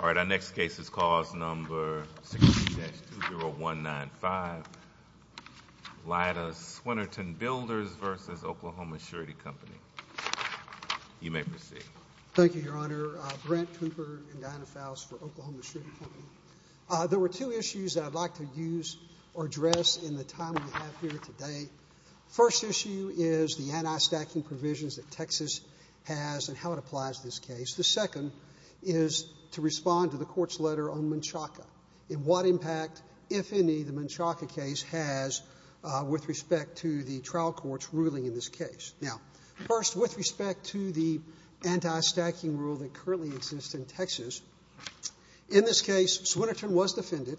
Our next case is cause number 16-20195, Lyda Swinerton Builders v. Oklahoma Surety Company. You may proceed. Thank you, Your Honor. Brent Cooper and Diana Faust for Oklahoma Surety Company. There were two issues that I'd like to use or address in the time we have here today. First issue is the anti-stacking provisions that Texas has and how it applies in this case. The second is to respond to the Court's letter on Menchaca and what impact, if any, the Menchaca case has with respect to the trial court's ruling in this case. Now, first, with respect to the anti-stacking rule that currently exists in Texas, in this case, Swinerton was defended,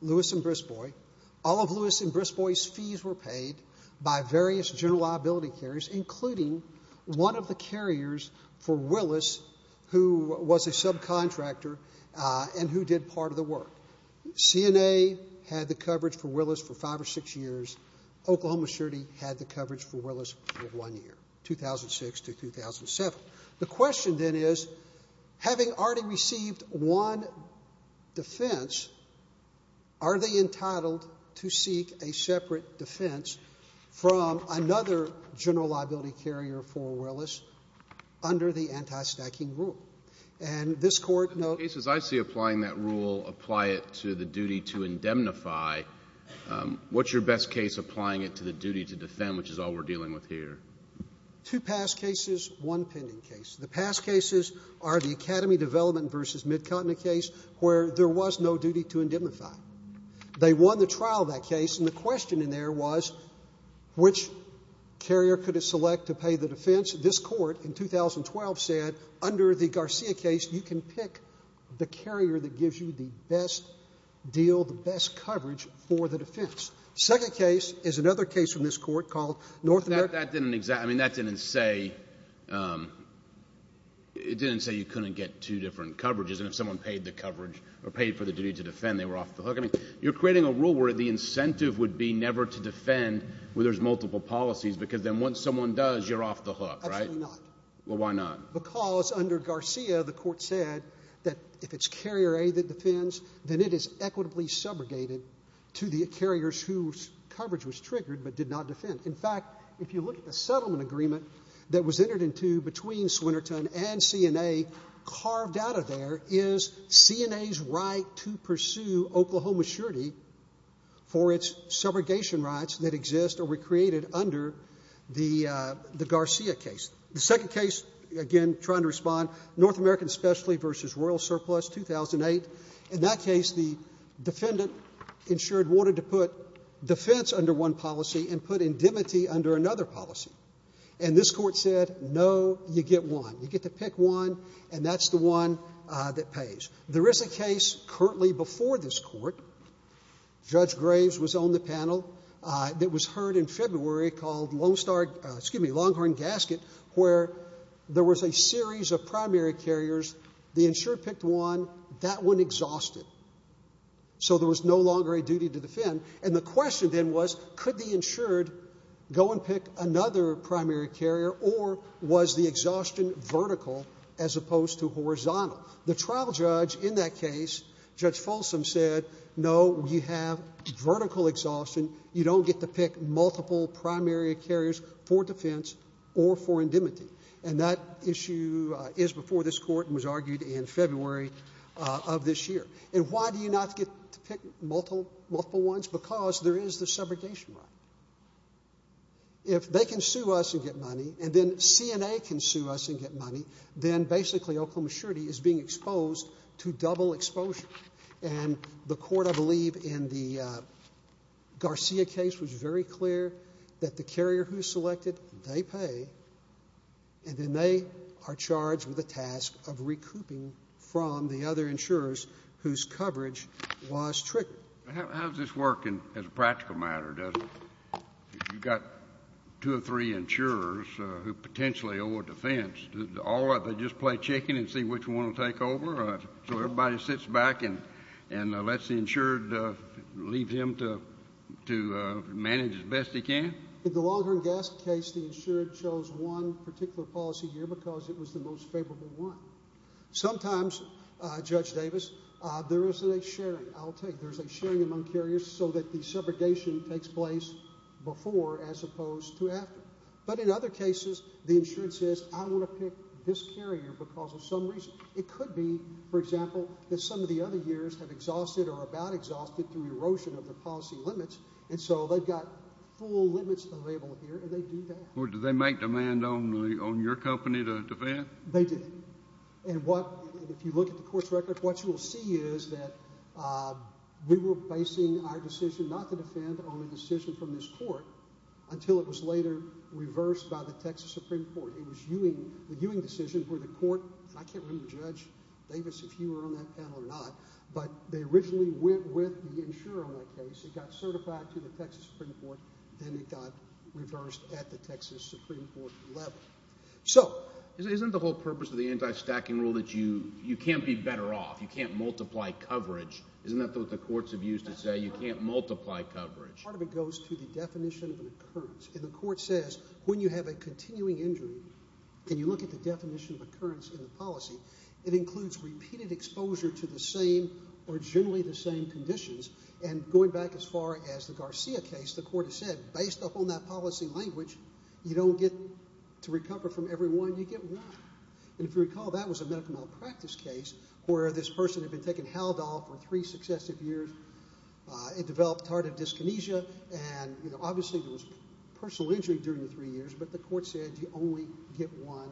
Lewis and Bristow, all of Lewis and Bristow's fees were paid by various general liability carriers, including one of the carriers for Willis, who was a subcontractor and who did part of the work. CNA had the coverage for Willis for five or six years. Oklahoma Surety had the coverage for Willis for one year, 2006 to 2007. The question then is, having already received one defense, are they entitled to seek a separate defense from another general liability carrier for Willis under the anti-stacking rule? And this Court no— The cases I see applying that rule apply it to the duty to indemnify. What's your best case applying it to the duty to defend, which is all we're dealing with here? Two past cases, one pending case. The past cases are the Academy Development v. Midcontinent case where there was no duty to trial that case, and the question in there was, which carrier could it select to pay the defense? This Court in 2012 said, under the Garcia case, you can pick the carrier that gives you the best deal, the best coverage for the defense. Second case is another case from this Court called North America— That didn't—I mean, that didn't say—it didn't say you couldn't get two different coverages, and if someone paid the coverage or paid for the duty to defend, they were off the hook. You're creating a rule where the incentive would be never to defend where there's multiple policies, because then once someone does, you're off the hook, right? Absolutely not. Well, why not? Because under Garcia, the Court said that if it's carrier A that defends, then it is equitably subrogated to the carriers whose coverage was triggered but did not defend. In fact, if you look at the settlement agreement that was entered into between Swinnerton and Garcia, there is no maturity for its subrogation rights that exist or were created under the Garcia case. The second case—again, trying to respond—North America, especially, versus Royal Surplus, 2008. In that case, the defendant insured wanted to put defense under one policy and put indemnity under another policy, and this Court said, no, you get one. You get to pick one, and that's the one that pays. There is a case currently before this Court, Judge Graves was on the panel, that was heard in February called Longhorn Gasket, where there was a series of primary carriers. The insured picked one. That one exhausted, so there was no longer a duty to defend. And the question then was, could the insured go and pick another primary carrier, or was the exhaustion vertical as opposed to horizontal? The trial judge in that case, Judge Folsom, said, no, you have vertical exhaustion. You don't get to pick multiple primary carriers for defense or for indemnity. And that issue is before this Court and was argued in February of this year. And why do you not get to pick multiple ones? Because there is the subrogation right. If they can sue us and get money, and then CNA can sue us and get money, then basically Oklahoma surety is being exposed to double exposure. And the Court, I believe, in the Garcia case was very clear that the carrier who's selected, they pay, and then they are charged with the task of recouping from the other insurers whose coverage was triggered. JUSTICE KENNEDY How does this work as a practical matter? You've got two or three insurers who potentially owe a defense. Do all of them just play chicken and see which one will take over? So everybody sits back and lets the insured leave him to manage as best he can? JUSTICE KENNEDY In the Waldron-Gast case, the insured chose one particular policy year because it was the most favorable one. Sometimes, Judge Davis, there is a sharing. I'll tell you, there's a sharing among carriers so that the subrogation takes place before as opposed to after. But in other cases, the insured says, I want to pick this carrier because of some reason. It could be, for example, that some of the other years have exhausted or about exhausted through erosion of their policy limits. And so they've got full limits available here, and they do that. JUSTICE KENNEDY Or do they make demand on your company to defend? JUSTICE KENNEDY They do. And if you look at the court's record, what you will see is that we were basing our decision not to defend on a decision from this court until it was later reversed by the Texas Supreme Court. It was the Ewing decision for the court. I can't remember, Judge Davis, if you were on that panel or not. But they originally went with the insurer on that case. It got certified to the Texas Supreme Court. Then it got reversed at the Texas Supreme Court level. So isn't the whole purpose of the anti-stacking rule that you can't be better off? You can't multiply coverage. Isn't that what the courts have used to say? You can't multiply coverage. Part of it goes to the definition of an occurrence. And the court says, when you have a continuing injury, can you look at the definition of occurrence in the policy? It includes repeated exposure to the same or generally the same conditions. And going back as far as the Garcia case, the court has said, based upon that policy language, you don't get to recover from every one. You get one. And if you recall, that was a medical malpractice case where this person had been taking Haldol for three successive years. It developed tardive dyskinesia. And obviously, there was personal injury during the three years. But the court said, you only get one.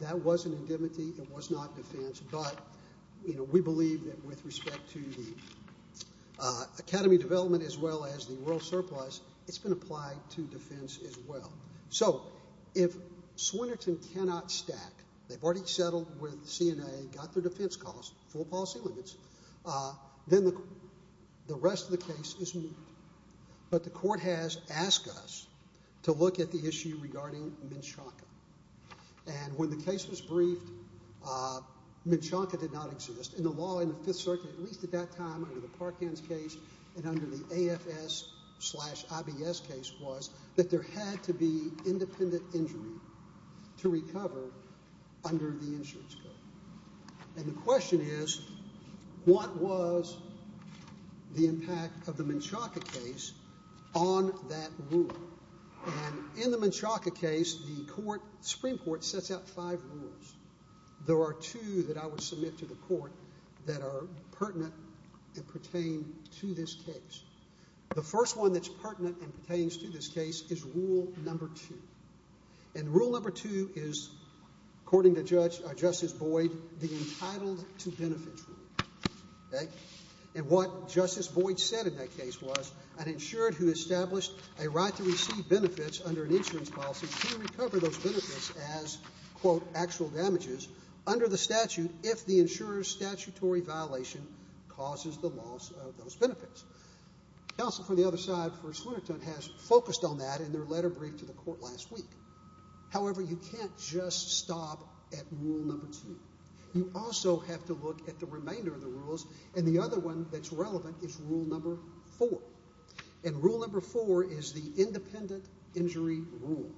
That was an indemnity. It was not defense. But we believe that with respect to the academy development as well as the world surplus, it's been applied to defense as well. So if Swinerton cannot stack, they've already settled with CNA, got their defense costs, full policy limits, then the rest of the case is moved. But the court has asked us to look at the issue regarding Menchonka. And when the case was briefed, Menchonka did not exist in the law in the Fifth Circuit, at least at that time under the Parkins case and under the AFS-IBS case was that there had to be independent injury to recover under the insurance code. And the question is, what was the impact of the Menchonka case on that rule? And in the Menchonka case, the Supreme Court sets out five rules. There are two that I would submit to the court that are pertinent and pertain to this case. The first one that's pertinent and pertains to this case is rule number two. And rule number two is, according to Justice Boyd, the entitled to benefits rule. And what Justice Boyd said in that case was an insured who established a right to receive under the statute if the insurer's statutory violation causes the loss of those benefits. Counsel for the other side, Forrest Winterton, has focused on that in their letter briefed to the court last week. However, you can't just stop at rule number two. You also have to look at the remainder of the rules. And the other one that's relevant is rule number four. And rule number four is the independent injury rule.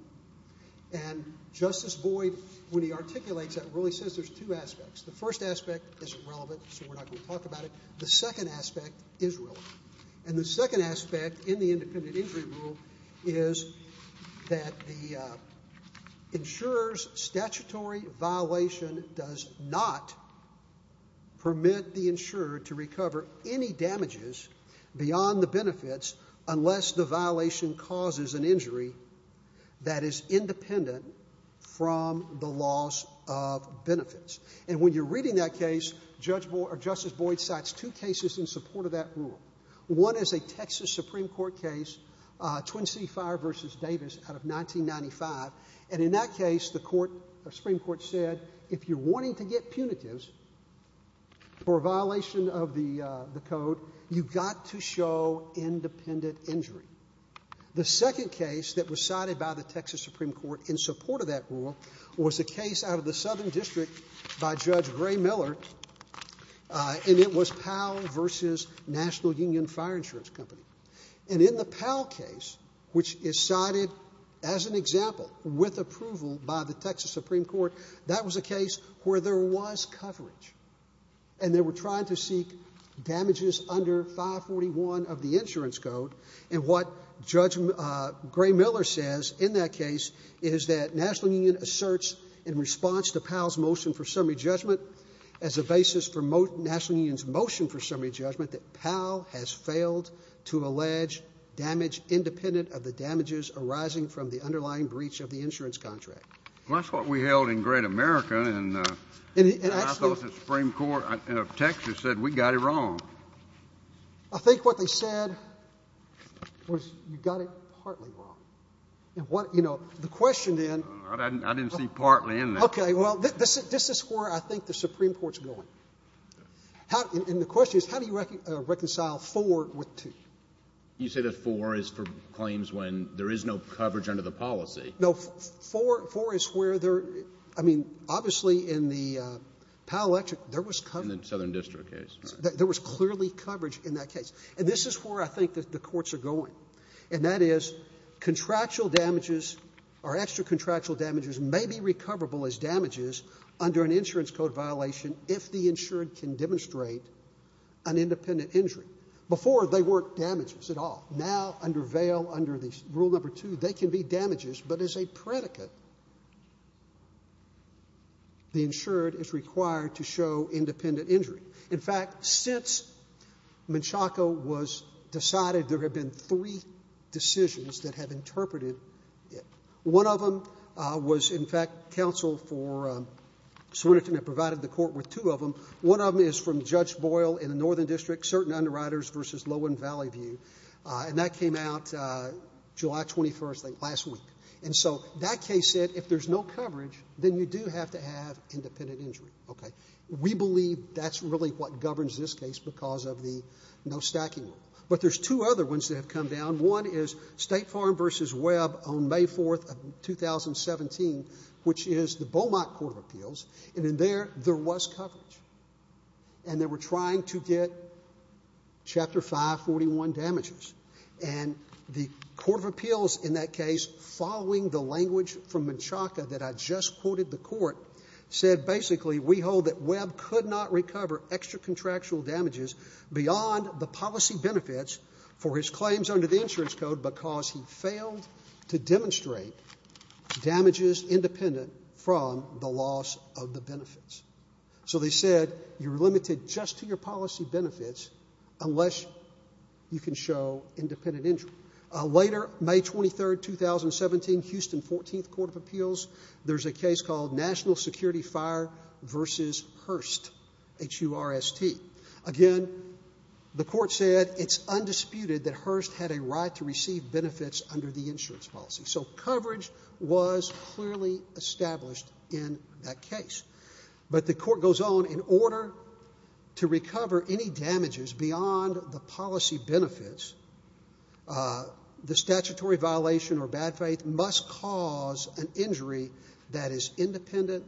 And Justice Boyd, when he articulates that rule, he says there's two aspects. The first aspect is irrelevant, so we're not going to talk about it. The second aspect is relevant. And the second aspect in the independent injury rule is that the insurer's statutory violation does not permit the insurer to recover any damages beyond the benefits unless the violation causes an injury that is independent from the loss of benefits. And when you're reading that case, Justice Boyd cites two cases in support of that rule. One is a Texas Supreme Court case, Twin City Fire v. Davis out of 1995. And in that case, the Supreme Court said, if you're wanting to get punitives for a violation of the code, you've got to show independent injury. The second case that was cited by the Texas Supreme Court in support of that rule was a case out of the Southern District by Judge Gray Miller, and it was Powell v. National Union Fire Insurance Company. And in the Powell case, which is cited as an example with approval by the Texas Supreme Court, that was a case where there was coverage, and they were trying to seek damages under 541 of the insurance code. And what Judge Gray Miller says in that case is that National Union asserts, in response to Powell's motion for summary judgment, as a basis for National Union's motion for summary judgment, that Powell has failed to allege damage independent of the damages arising from the underlying breach of the insurance contract. That's what we held in Great America, and I thought the Supreme Court of Texas said, we got it wrong. I think what they said was, you got it partly wrong. And what, you know, the question then — I didn't see partly in there. Okay. Well, this is where I think the Supreme Court's going. And the question is, how do you reconcile 4 with 2? You say that 4 is for claims when there is no coverage under the policy. No, 4 is where there — I mean, obviously, in the Powell-Electric, there was coverage. In the Southern District case. There was clearly coverage in that case. And this is where I think the courts are going. And that is, contractual damages or extra contractual damages may be recoverable as damages under an insurance code violation if the insured can demonstrate an independent injury. Before, they weren't damages at all. Now, under Vail, under Rule No. 2, they can be damages, but as a predicate, the insured is required to show independent injury. In fact, since Menchaca was decided, there have been three decisions that have interpreted it. One of them was, in fact, counsel for Swinerton that provided the court with two of them. One of them is from Judge Boyle in the Northern District, certain underwriters versus Lowen Valley View. And that came out July 21st, I think, last week. And so that case said, if there's no coverage, then you do have to have independent injury. Okay. We believe that's really what governs this case because of the no stacking rule. But there's two other ones that have come down. One is State Farm versus Webb on May 4th of 2017, which is the Beaumont Court of Appeals. And in there, there was coverage. And they were trying to get Chapter 541 damages. And the Court of Appeals in that case, following the language from Menchaca that I just quoted the court, said, basically, we hold that Webb could not recover extra contractual damages beyond the policy benefits for his claims under the insurance code because he failed to demonstrate damages independent from the loss of the benefits. So they said, you're limited just to your policy benefits unless you can show independent injury. Later, May 23rd, 2017, Houston 14th Court of Appeals, there's a case called National Security Fire versus Hearst, H-U-R-S-T. Again, the court said, it's undisputed that Hearst had a right to receive benefits under the insurance policy. So coverage was clearly established in that case. But the court goes on, in order to recover any damages beyond the policy benefits, the statutory violation or bad faith must cause an injury that is independent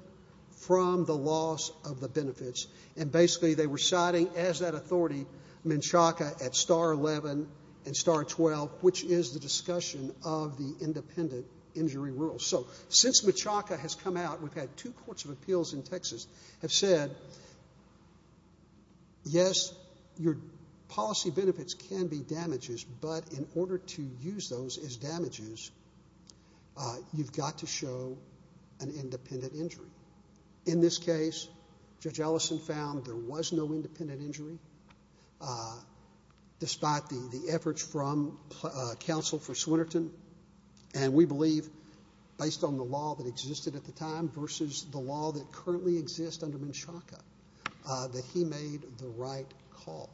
from the loss of the benefits. And basically, they were citing, as that authority, Menchaca at Star 11 and Star 12, which is the discussion of the independent injury rule. So since Menchaca has come out, we've had two courts of appeals in Texas have said, yes, your policy benefits can be damages, but in order to use those as damages, you've got to show an independent injury. In this case, Judge Ellison found there was no independent injury, despite the efforts from counsel for Swinerton. And we believe, based on the law that existed at the time versus the law that currently exists under Menchaca, that he made the right call.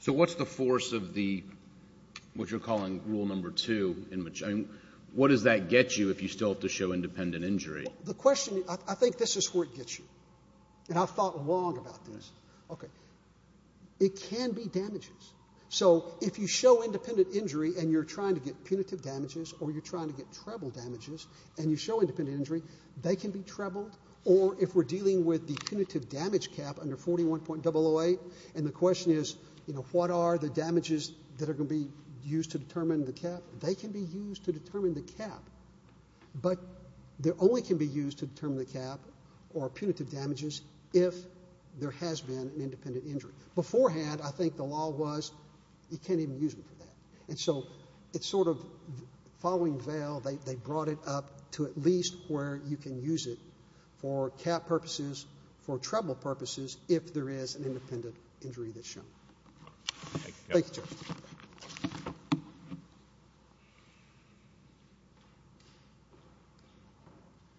So what's the force of the, what you're calling rule number two? What does that get you if you still have to show independent injury? The question, I think this is where it gets you. And I've thought long about this. OK. It can be damages. So if you show independent injury, and you're trying to get punitive damages, or you're trying to get treble damages, and you show independent injury, they can be trebled. Or if we're dealing with the punitive damage cap under 41.008, and the question is, you know, what are the damages that are going to be used to determine the cap? They can be used to determine the cap. But they only can be used to determine the cap or punitive damages if there has been an independent injury. Beforehand, I think the law was, you can't even use them for that. And so it's sort of, following Vail, they brought it up to at least where you can use it for cap purposes, for treble purposes, if there is an independent injury that's shown. Thank you, Judge.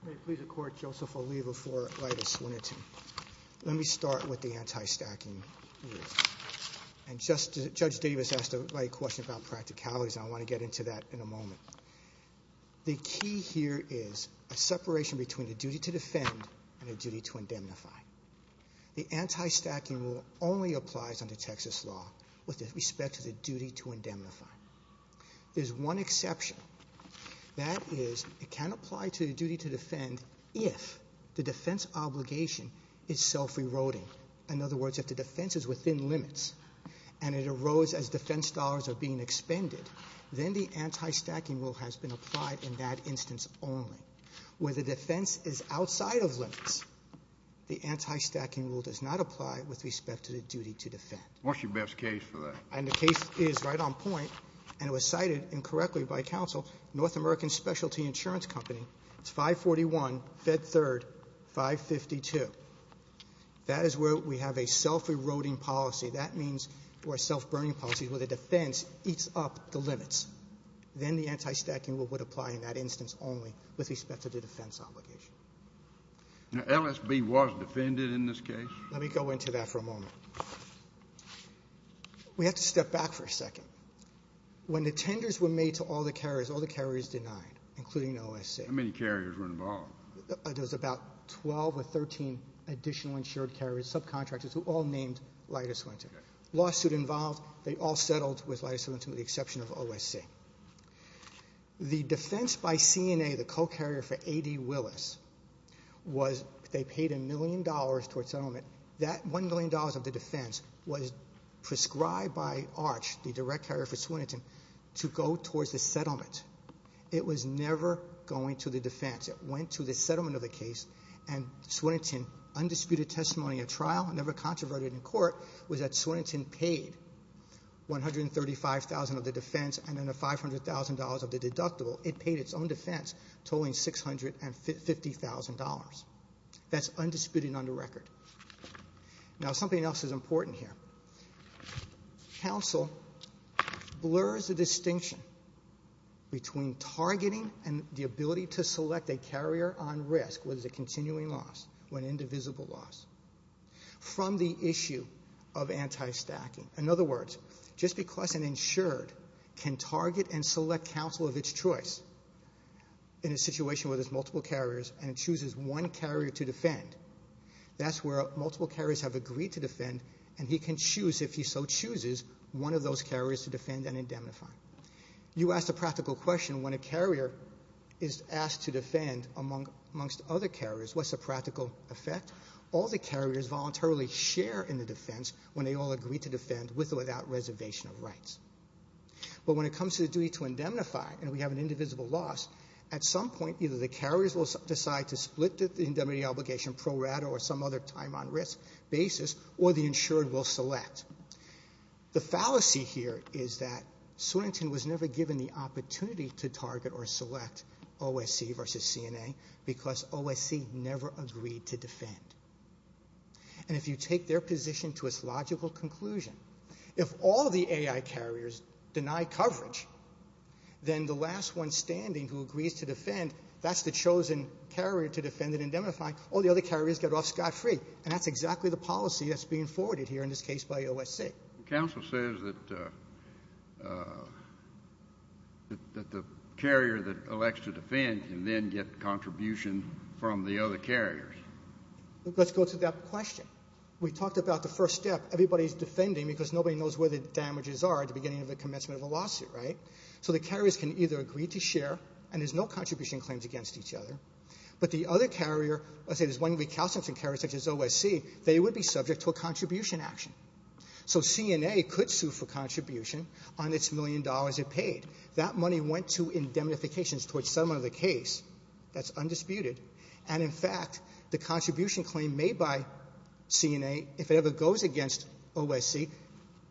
May it please the Court, Joseph, I'll leave before I just wanted to, let me start with the anti-stacking. Yes. And Judge Davis asked a question about practicalities, and I want to get into that in a moment. The key here is a separation between the duty to defend and the duty to indemnify. The anti-stacking rule only applies under Texas law with respect to the duty to indemnify. There's one exception. That is, it can apply to the duty to defend if the defense obligation is self-reloading. In other words, if the defense is within limits and it arose as defense dollars are being expended, then the anti-stacking rule has been applied in that instance only. Where the defense is outside of limits, the anti-stacking rule does not apply with respect to the duty to defend. What's your best case for that? And the case is right on point, and it was cited incorrectly by counsel, North American Specialty Insurance Company, it's 541, Fed Third, 552. That is where we have a self-reloading policy. That means we're self-burning policies where the defense eats up the limits. Then the anti-stacking rule would apply in that instance only with respect to the defense obligation. Now, LSB was defended in this case? Let me go into that for a moment. We have to step back for a second. When the tenders were made to all the carriers, all the carriers denied, including OSC. How many carriers were involved? There's about 12 or 13 additional insured carriers, subcontractors who all named Leiter Swininton. Lawsuit involved, they all settled with Leiter Swininton with the exception of OSC. The defense by CNA, the co-carrier for A.D. Willis, was they paid a million dollars towards settlement. That $1 million of the defense was prescribed by ARCH, the direct carrier for Swininton, to go towards the settlement. It was never going to the defense. It went to the settlement of the case, and Swininton, undisputed testimony at trial, never controverted in court, was that Swininton paid $135,000 of the defense and then the $500,000 of the deductible. It paid its own defense totaling $650,000. That's undisputed on the record. Now, something else is important here. Counsel blurs the distinction between targeting and the ability to select a carrier on risk, whether it's a continuing loss or an indivisible loss, from the issue of anti-stacking. In other words, just because an insured can target and select counsel of its choice in a situation where there's multiple carriers and chooses one carrier to defend, that's multiple carriers have agreed to defend, and he can choose, if he so chooses, one of those carriers to defend and indemnify. You asked a practical question. When a carrier is asked to defend amongst other carriers, what's the practical effect? All the carriers voluntarily share in the defense when they all agree to defend with or without reservation of rights. But when it comes to the duty to indemnify, and we have an indivisible loss, at some point, either the carriers will decide to split the indemnity obligation pro rata or some other time on risk basis, or the insured will select. The fallacy here is that Swannington was never given the opportunity to target or select OSC versus CNA because OSC never agreed to defend. And if you take their position to its logical conclusion, if all the AI carriers deny coverage, then the last one standing who agrees to defend, that's the chosen carrier to defend and indemnify. All the other carriers get off scot-free, and that's exactly the policy that's being forwarded here in this case by OSC. Counsel says that the carrier that elects to defend can then get contribution from the other carriers. Let's go to that question. We talked about the first step. Everybody's defending because nobody knows where the damages are at the beginning of the commencement of a lawsuit, right? So the carriers can either agree to share, and there's no contribution claims against each other, but the other carrier, let's say there's one recalcitrant carrier such as OSC, they would be subject to a contribution action. So CNA could sue for contribution on its million dollars it paid. That money went to indemnifications towards settlement of the case. That's undisputed. And in fact, the contribution claim made by CNA, if it ever goes against OSC,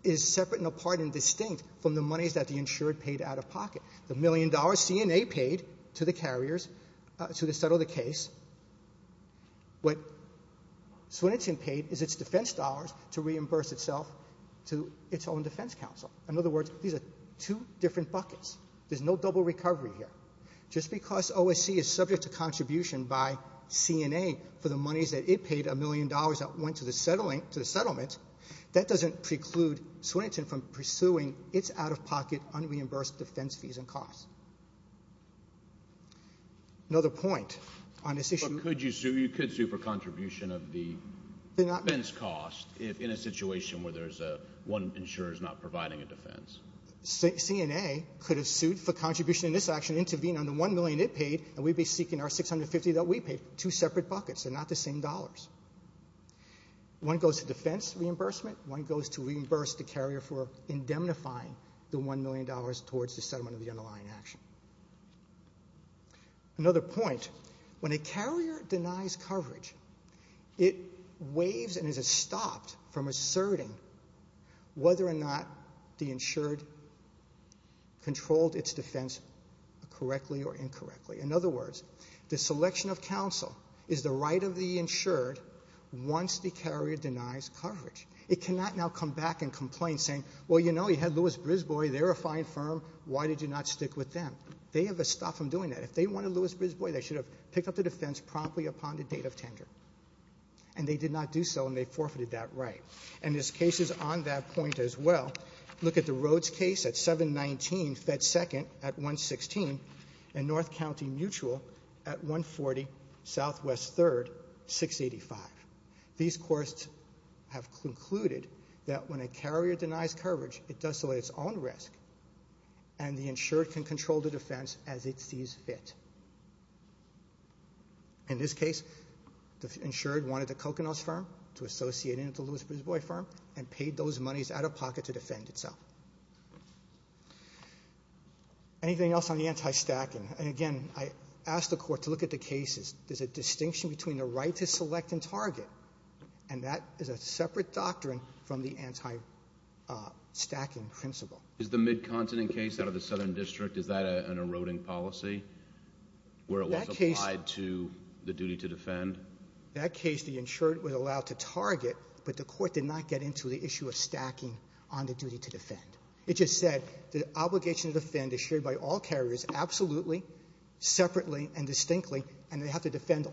is separate and apart and distinct from the monies that the insured paid out of pocket. The million dollars CNA paid to the carriers to settle the case, what Swinnington paid is its defense dollars to reimburse itself to its own defense counsel. In other words, these are two different buckets. There's no double recovery here. Just because OSC is subject to contribution by CNA for the monies that it paid, a million dollars that went to the settlement, that doesn't preclude Swinnington from pursuing its out-of-pocket unreimbursed defense fees and costs. Another point on this issue. But could you sue? You could sue for contribution of the defense cost in a situation where there's one insurer is not providing a defense. CNA could have sued for contribution in this action, intervened on the one million it paid, and we'd be seeking our 650 that we paid. Two separate buckets. They're not the same dollars. One goes to defense reimbursement. One goes to reimburse the carrier for indemnifying the one million dollars towards the settlement of the underlying action. Another point. When a carrier denies coverage, it waives and is stopped from asserting whether or not the insured controlled its defense correctly or incorrectly. In other words, the selection of counsel is the right of the insured once the carrier denies coverage. It cannot now come back and complain, saying, well, you know, you had Lewis-Brisbois. They're a fine firm. Why did you not stick with them? They have been stopped from doing that. If they wanted Lewis-Brisbois, they should have picked up the defense promptly upon the date of tender. And they did not do so, and they forfeited that right. And this case is on that point as well. Look at the Rhodes case at 719, Fed Second at 116, and North County Mutual at 140, Southwest Third, 685. These courts have concluded that when a carrier denies coverage, it does so at its own risk, and the insured can control the defense as it sees fit. In this case, the insured wanted the Coconuts firm to associate in with the Lewis-Brisbois firm and paid those monies out of pocket to defend itself. Anything else on the anti-stacking? And again, I ask the court to look at the cases. There's a distinction between the right to select and target, and that is a separate doctrine from the anti-stacking principle. Is the Mid-Continent case out of the Southern District, is that an eroding policy where it was applied to the duty to defend? That case, the insured was allowed to target, but the court did not get into the issue of stacking on the duty to defend. It just said the obligation to defend is shared by all carriers absolutely, separately, and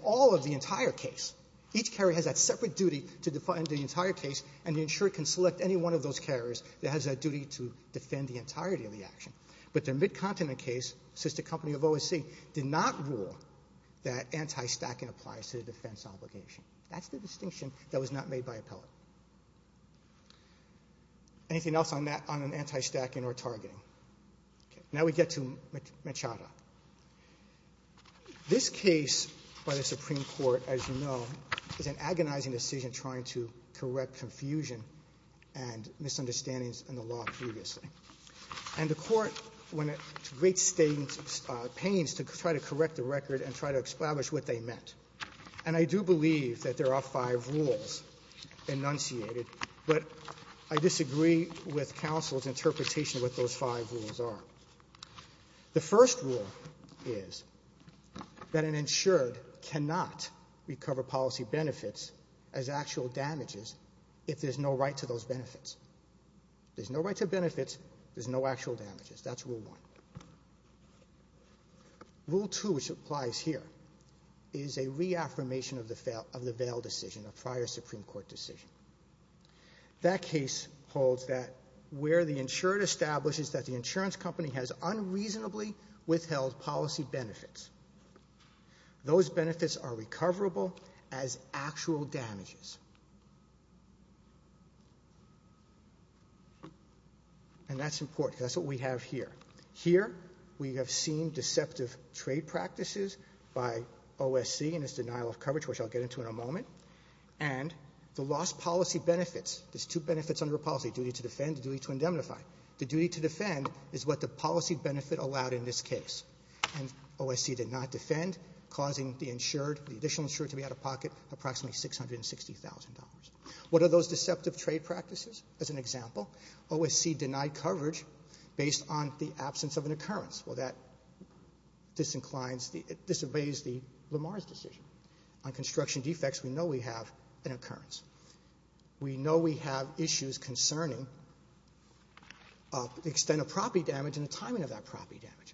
all of the entire case. Each carrier has that separate duty to defend the entire case, and the insured can select any one of those carriers that has that duty to defend the entirety of the action. But the Mid-Continent case, since the company of OSC did not rule that anti-stacking applies to the defense obligation. That's the distinction that was not made by appellate. Anything else on an anti-stacking or targeting? Now we get to Machado. This case by the Supreme Court, as you know, is an agonizing decision trying to correct confusion and misunderstandings in the law previously. And the court went to great pains to try to correct the record and try to establish what they meant. And I do believe that there are five rules enunciated, but I disagree with counsel's interpretation of what those five rules are. The first rule is that an insured cannot recover policy benefits as actual damages if there's no right to those benefits. There's no right to benefits. There's no actual damages. That's rule one. Rule two, which applies here, is a reaffirmation of the Vail decision, a prior Supreme Court decision. That case holds that where the insured establishes that the insurance company has unreasonably withheld policy benefits, those benefits are recoverable as actual damages. And that's important. That's what we have here. Here, we have seen deceptive trade practices by OSC and its denial of coverage, which I'll get into in a moment. And the lost policy benefits, there's two benefits under a policy, duty to defend, duty to indemnify. The duty to defend is what the policy benefit allowed in this case. And OSC did not defend, causing the insured, the additional insured to be out of pocket, approximately $660,000. What are those deceptive trade practices? As an example, OSC denied coverage based on the absence of an occurrence. Well, that disinclines, it disobeys the Lamar's decision. On construction defects, we know we have an occurrence. We know we have issues concerning the extent of property damage and the timing of that property damage.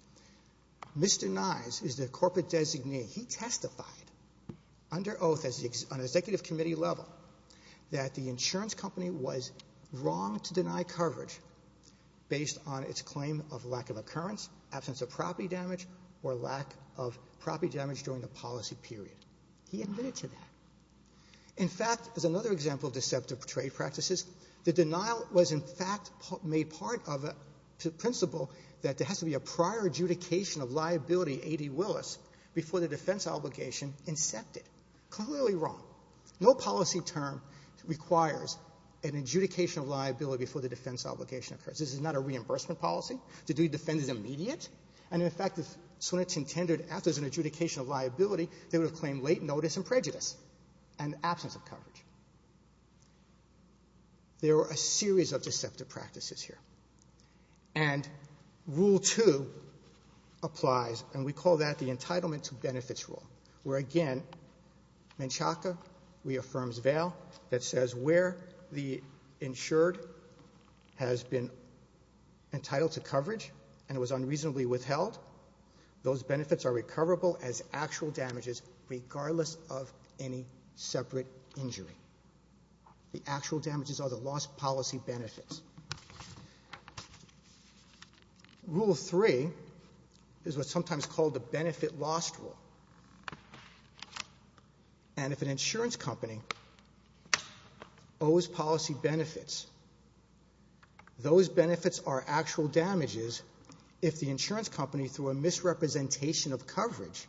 Mr. Nyes is the corporate designee. He testified under oath on an executive committee level that the insurance company was wrong to deny coverage based on its claim of lack of occurrence, absence of property damage, or lack of property damage during the policy period. He admitted to that. In fact, as another example of deceptive trade practices, the denial was, in fact, made part of a principle that there has to be a prior adjudication of liability, A.D. Willis, before the defense obligation incepted. Clearly wrong. No policy term requires an adjudication of liability before the defense obligation occurs. This is not a reimbursement policy. The duty to defend is immediate. And, in fact, if Swinerton tendered after there's an adjudication of liability, they would have claimed late notice and prejudice and absence of coverage. There are a series of deceptive practices here. And rule two applies, and we call that the entitlement to benefits rule, where, again, Menchaca reaffirms Vail that says where the insured has been entitled to coverage and was unreasonably withheld, those benefits are recoverable as actual damages, regardless of any separate injury. The actual damages are the lost policy benefits. Rule three is what's sometimes called the benefit loss rule. And if an insurance company owes policy benefits, those benefits are actual damages if the insurance company, through a misrepresentation of coverage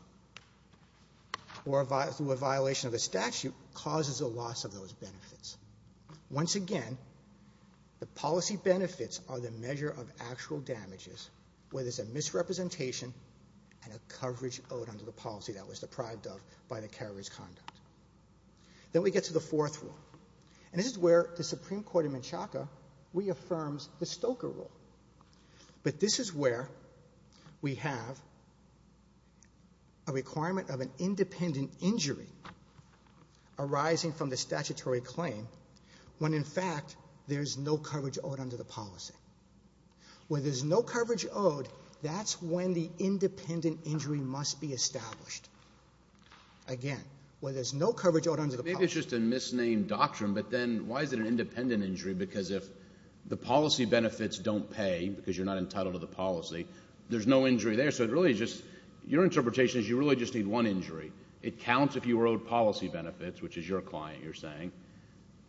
or through a violation of the statute, causes a loss of those benefits. Once again, the policy benefits are the measure of actual damages, whether it's a misrepresentation and a coverage owed under the policy that was deprived of by the carriage conduct. Then we get to the fourth rule. And this is where the Supreme Court in Menchaca reaffirms the Stoker rule. But this is where we have a requirement of an independent injury arising from the statutory claim when, in fact, there's no coverage owed under the policy. Where there's no coverage owed, that's when the independent injury must be established. Again, where there's no coverage owed under the policy. Maybe it's just a misnamed doctrine, but then why is it an independent injury? Because if the policy benefits don't pay, because you're not entitled to the policy, there's no injury there. So it really is just, your interpretation is you really just need one injury. It counts if you were owed policy benefits, which is your client, you're saying.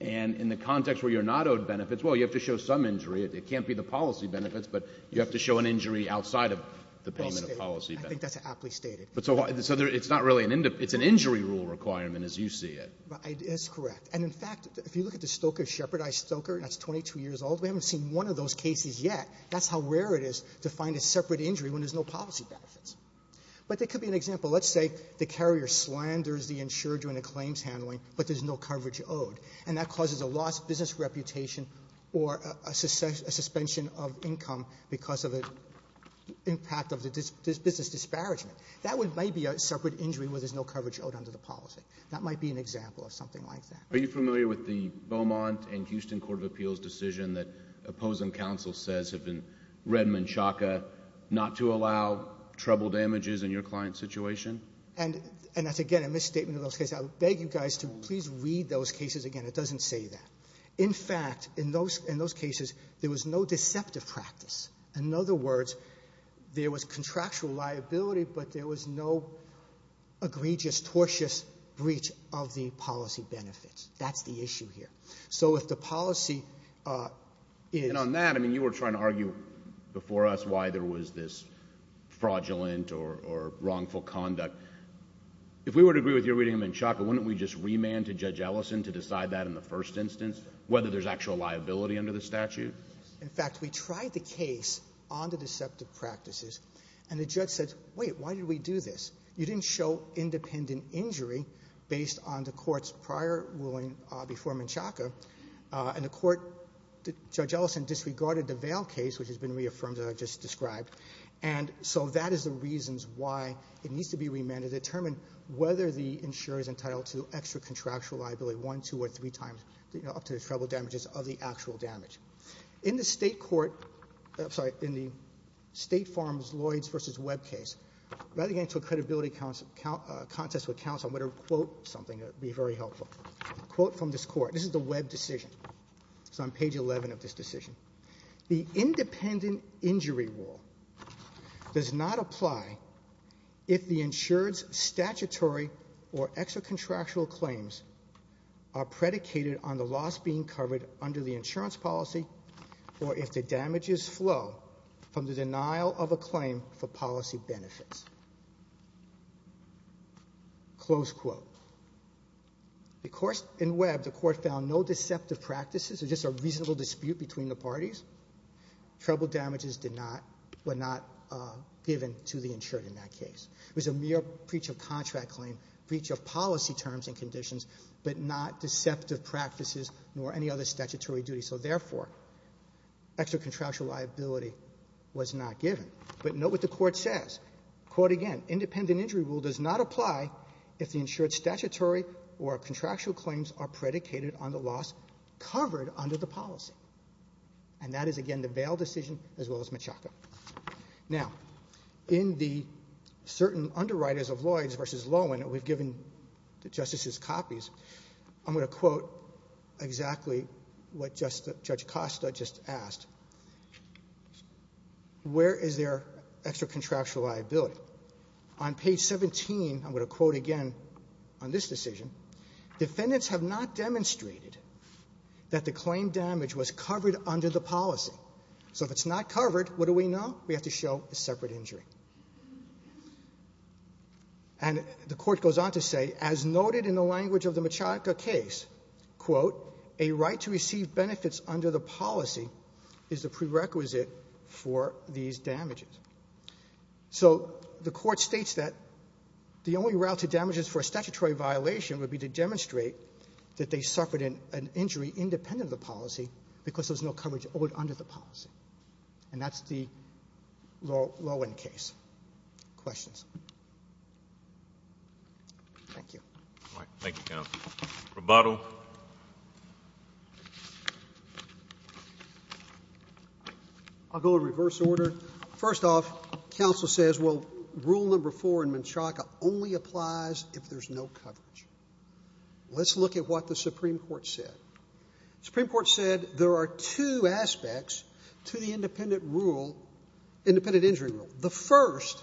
And in the context where you're not owed benefits, well, you have to show some injury. It can't be the policy benefits, but you have to show an injury outside of the payment of policy benefits. I think that's aptly stated. But so it's not really an, it's an injury rule requirement as you see it. That's correct. And, in fact, if you look at the Stoker-Shephardi-Stoker, and that's 22 years old. We haven't seen one of those cases yet. That's how rare it is to find a separate injury when there's no policy benefits. But there could be an example. Let's say the carrier slanders the insurer during the claims handling, but there's no coverage owed. And that causes a loss of business reputation or a suspension of income because of the impact of the business disparagement. That might be a separate injury where there's no coverage owed under the policy. That might be an example of something like that. Are you familiar with the Beaumont and Houston Court of Appeals decision that Opposing Counsel says, if in Redmond-Chaka, not to allow trouble damages in your client's And that's, again, a misstatement of those cases. I beg you guys to please read those cases again. It doesn't say that. In fact, in those cases, there was no deceptive practice. In other words, there was contractual liability, but there was no egregious, tortious breach of the policy benefits. That's the issue here. So if the policy is And on that, I mean, you were trying to argue before us why there was this fraudulent or wrongful conduct. If we were to agree with your reading of Menchaca, wouldn't we just remand to Judge Ellison to decide that in the first instance, whether there's actual liability under the statute? In fact, we tried the case on the deceptive practices, and the judge said, wait, why did we do this? You didn't show independent injury based on the court's prior ruling before Menchaca. And the court, Judge Ellison disregarded the Vale case, which has been reaffirmed that I've just described. And so that is the reasons why it needs to be remanded to determine whether the insurer's entitled to extra contractual liability, one, two, or three times, up to the trouble damages of the actual damage. In the state court, I'm sorry, in the State Farms Lloyds versus Webb case, rather getting into a credibility contest with counsel, I'm going to quote something that would be very helpful. Quote from this court. This is the Webb decision. It's on page 11 of this decision. The independent injury rule does not apply if the insured's statutory or extra contractual claims are predicated on the loss being covered under the insurance policy, or if the damages flow from the denial of a claim for policy benefits, close quote. Of course, in Webb, the court found no deceptive practices. It's just a reasonable dispute between the parties. Trouble damages were not given to the insured in that case. It was a mere breach of contract claim, breach of policy terms and conditions, but not deceptive practices, nor any other statutory duty. So therefore, extra contractual liability was not given. But note what the court says. Quote again. Independent injury rule does not apply if the insured's statutory or contractual claims are predicated on the loss covered under the policy. And that is, again, the Vail decision, as well as Machaca. Now, in the certain underwriters of Lloyds versus Lowen, we've given the justices copies. I'm going to quote exactly what Judge Costa just asked. Where is there extra contractual liability? On page 17, I'm going to quote again on this decision. Defendants have not demonstrated that the claim damage was covered under the policy. So if it's not covered, what do we know? We have to show a separate injury. And the court goes on to say, as noted in the language of the Machaca case, quote, a right to receive benefits under the policy is the prerequisite for these damages. So the court states that the only route to damages for a statutory violation would be to demonstrate that they suffered an injury independent of the policy because there's no coverage owed under the policy. And that's the Lowen case. Questions? Thank you. Thank you, counsel. Roboto? I'll go in reverse order. First off, counsel says, well, rule number four in Machaca only applies if there's no coverage. Let's look at what the Supreme Court said. Supreme Court said there are two aspects to the independent injury rule. The first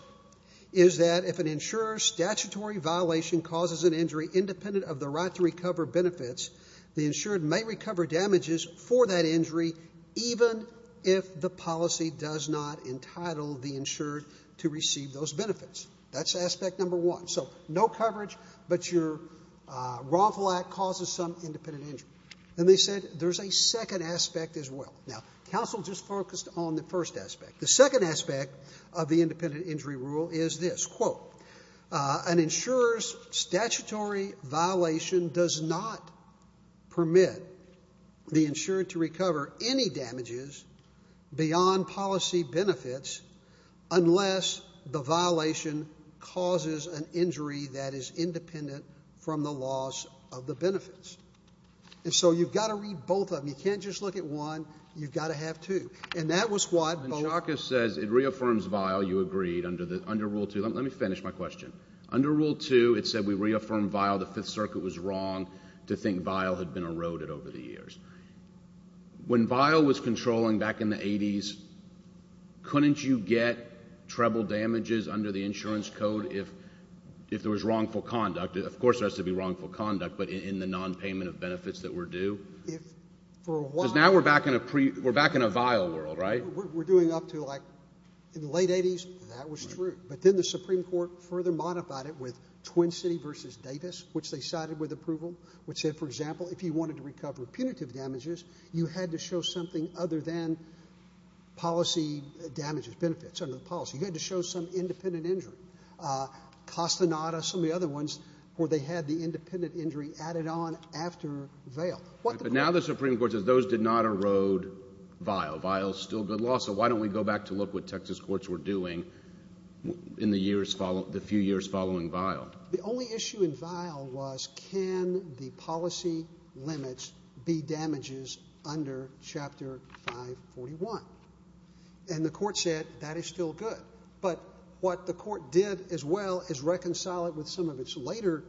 is that if an insurer's statutory violation causes an injury independent of the right to recover benefits, the insured may recover damages for that injury even if the policy does not entitle the insured to receive those benefits. That's aspect number one. So no coverage, but your wrongful act causes some independent injury. And they said there's a second aspect as well. Now, counsel just focused on the first aspect. The second aspect of the independent injury rule is this. Quote, an insurer's statutory violation does not permit the insured to recover any damages beyond policy benefits unless the violation causes an injury that is independent from the loss of the benefits. And so you've got to read both of them. You can't just look at one. You've got to have two. And that was what both of them... When Chalkis says it reaffirms vial, you agreed under rule two. Let me finish my question. Under rule two, it said we reaffirmed vial. The Fifth Circuit was wrong to think vial had been eroded over the years. When vial was controlling back in the 80s, couldn't you get treble damages under the insurance code if there was wrongful conduct? Of course there has to be wrongful conduct, but in the nonpayment of benefits that were due? Because now we're back in a vial world, right? We're doing up to like, in the late 80s, that was true. But then the Supreme Court further modified it with Twin City versus Davis, which they cited with approval, which said, for example, if you wanted to recover punitive damages, you had to show something other than policy damages, benefits under the policy. You had to show some independent injury. Costanada, some of the other ones where they had the independent injury added on after vial. But now the Supreme Court says those did not erode vial. Vial is still good law, so why don't we go back to look what Texas courts were doing in the years following, the few years following vial? The only issue in vial was, can the policy limits be damages under chapter 541? And the court said, that is still good. But what the court did as well is reconcile it with some of its later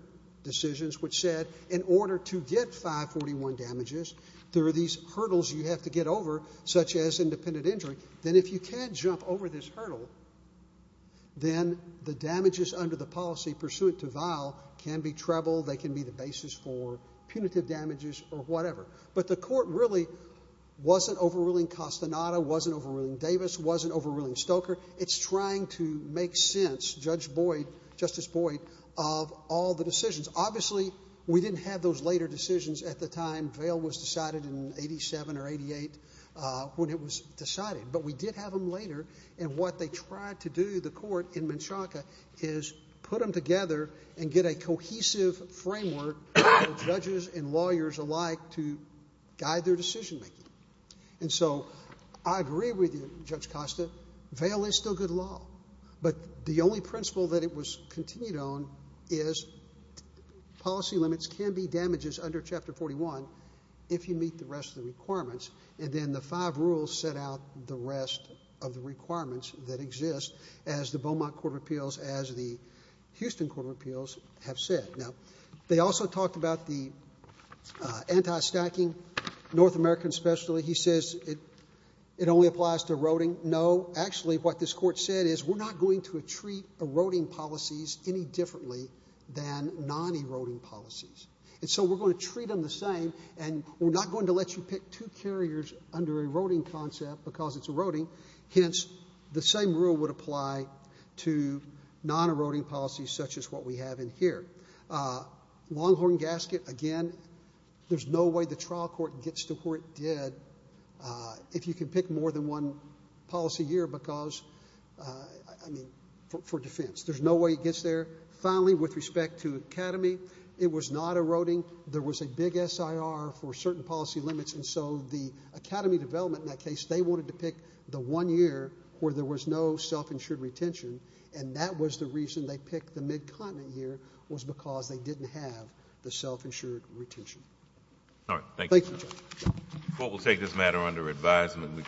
decisions, which said, in order to get 541 damages, there are these hurdles you have to get over, such as independent injury. Then if you can't jump over this hurdle, then the damages under the policy pursuant to vial can be treble, they can be the basis for punitive damages or whatever. But the court really wasn't overruling Costanada, wasn't overruling Davis, wasn't overruling Stoker. It's trying to make sense, Judge Boyd, Justice Boyd, of all the decisions. Obviously, we didn't have those later decisions at the time vial was decided in 87 or 88, when it was decided. But we did have them later, and what they tried to do, the court in Menchaca, is put them together and get a cohesive framework for judges and lawyers alike to guide their decision making. And so, I agree with you, Judge Costa, vial is still good law. But the only principle that it was continued on is policy limits can be damages under Chapter 41 if you meet the rest of the requirements. And then the five rules set out the rest of the requirements that exist as the Beaumont Court of Appeals, as the Houston Court of Appeals have said. Now, they also talked about the anti-stacking, North American especially. He says it only applies to eroding. Actually, what this court said is, we're not going to treat eroding policies any differently than non-eroding policies. And so we're going to treat them the same, and we're not going to let you pick two carriers under eroding concept because it's eroding. Hence, the same rule would apply to non-eroding policies such as what we have in here. Longhorn gasket, again, there's no way the trial court gets to where it did. If you can pick more than one policy year because, I mean, for defense. There's no way it gets there. Finally, with respect to Academy, it was not eroding. There was a big SIR for certain policy limits. And so the Academy development in that case, they wanted to pick the one year where there was no self-insured retention. And that was the reason they picked the mid-continent year, was because they didn't have the self-insured retention. All right, thank you. The court will take this matter under advisement.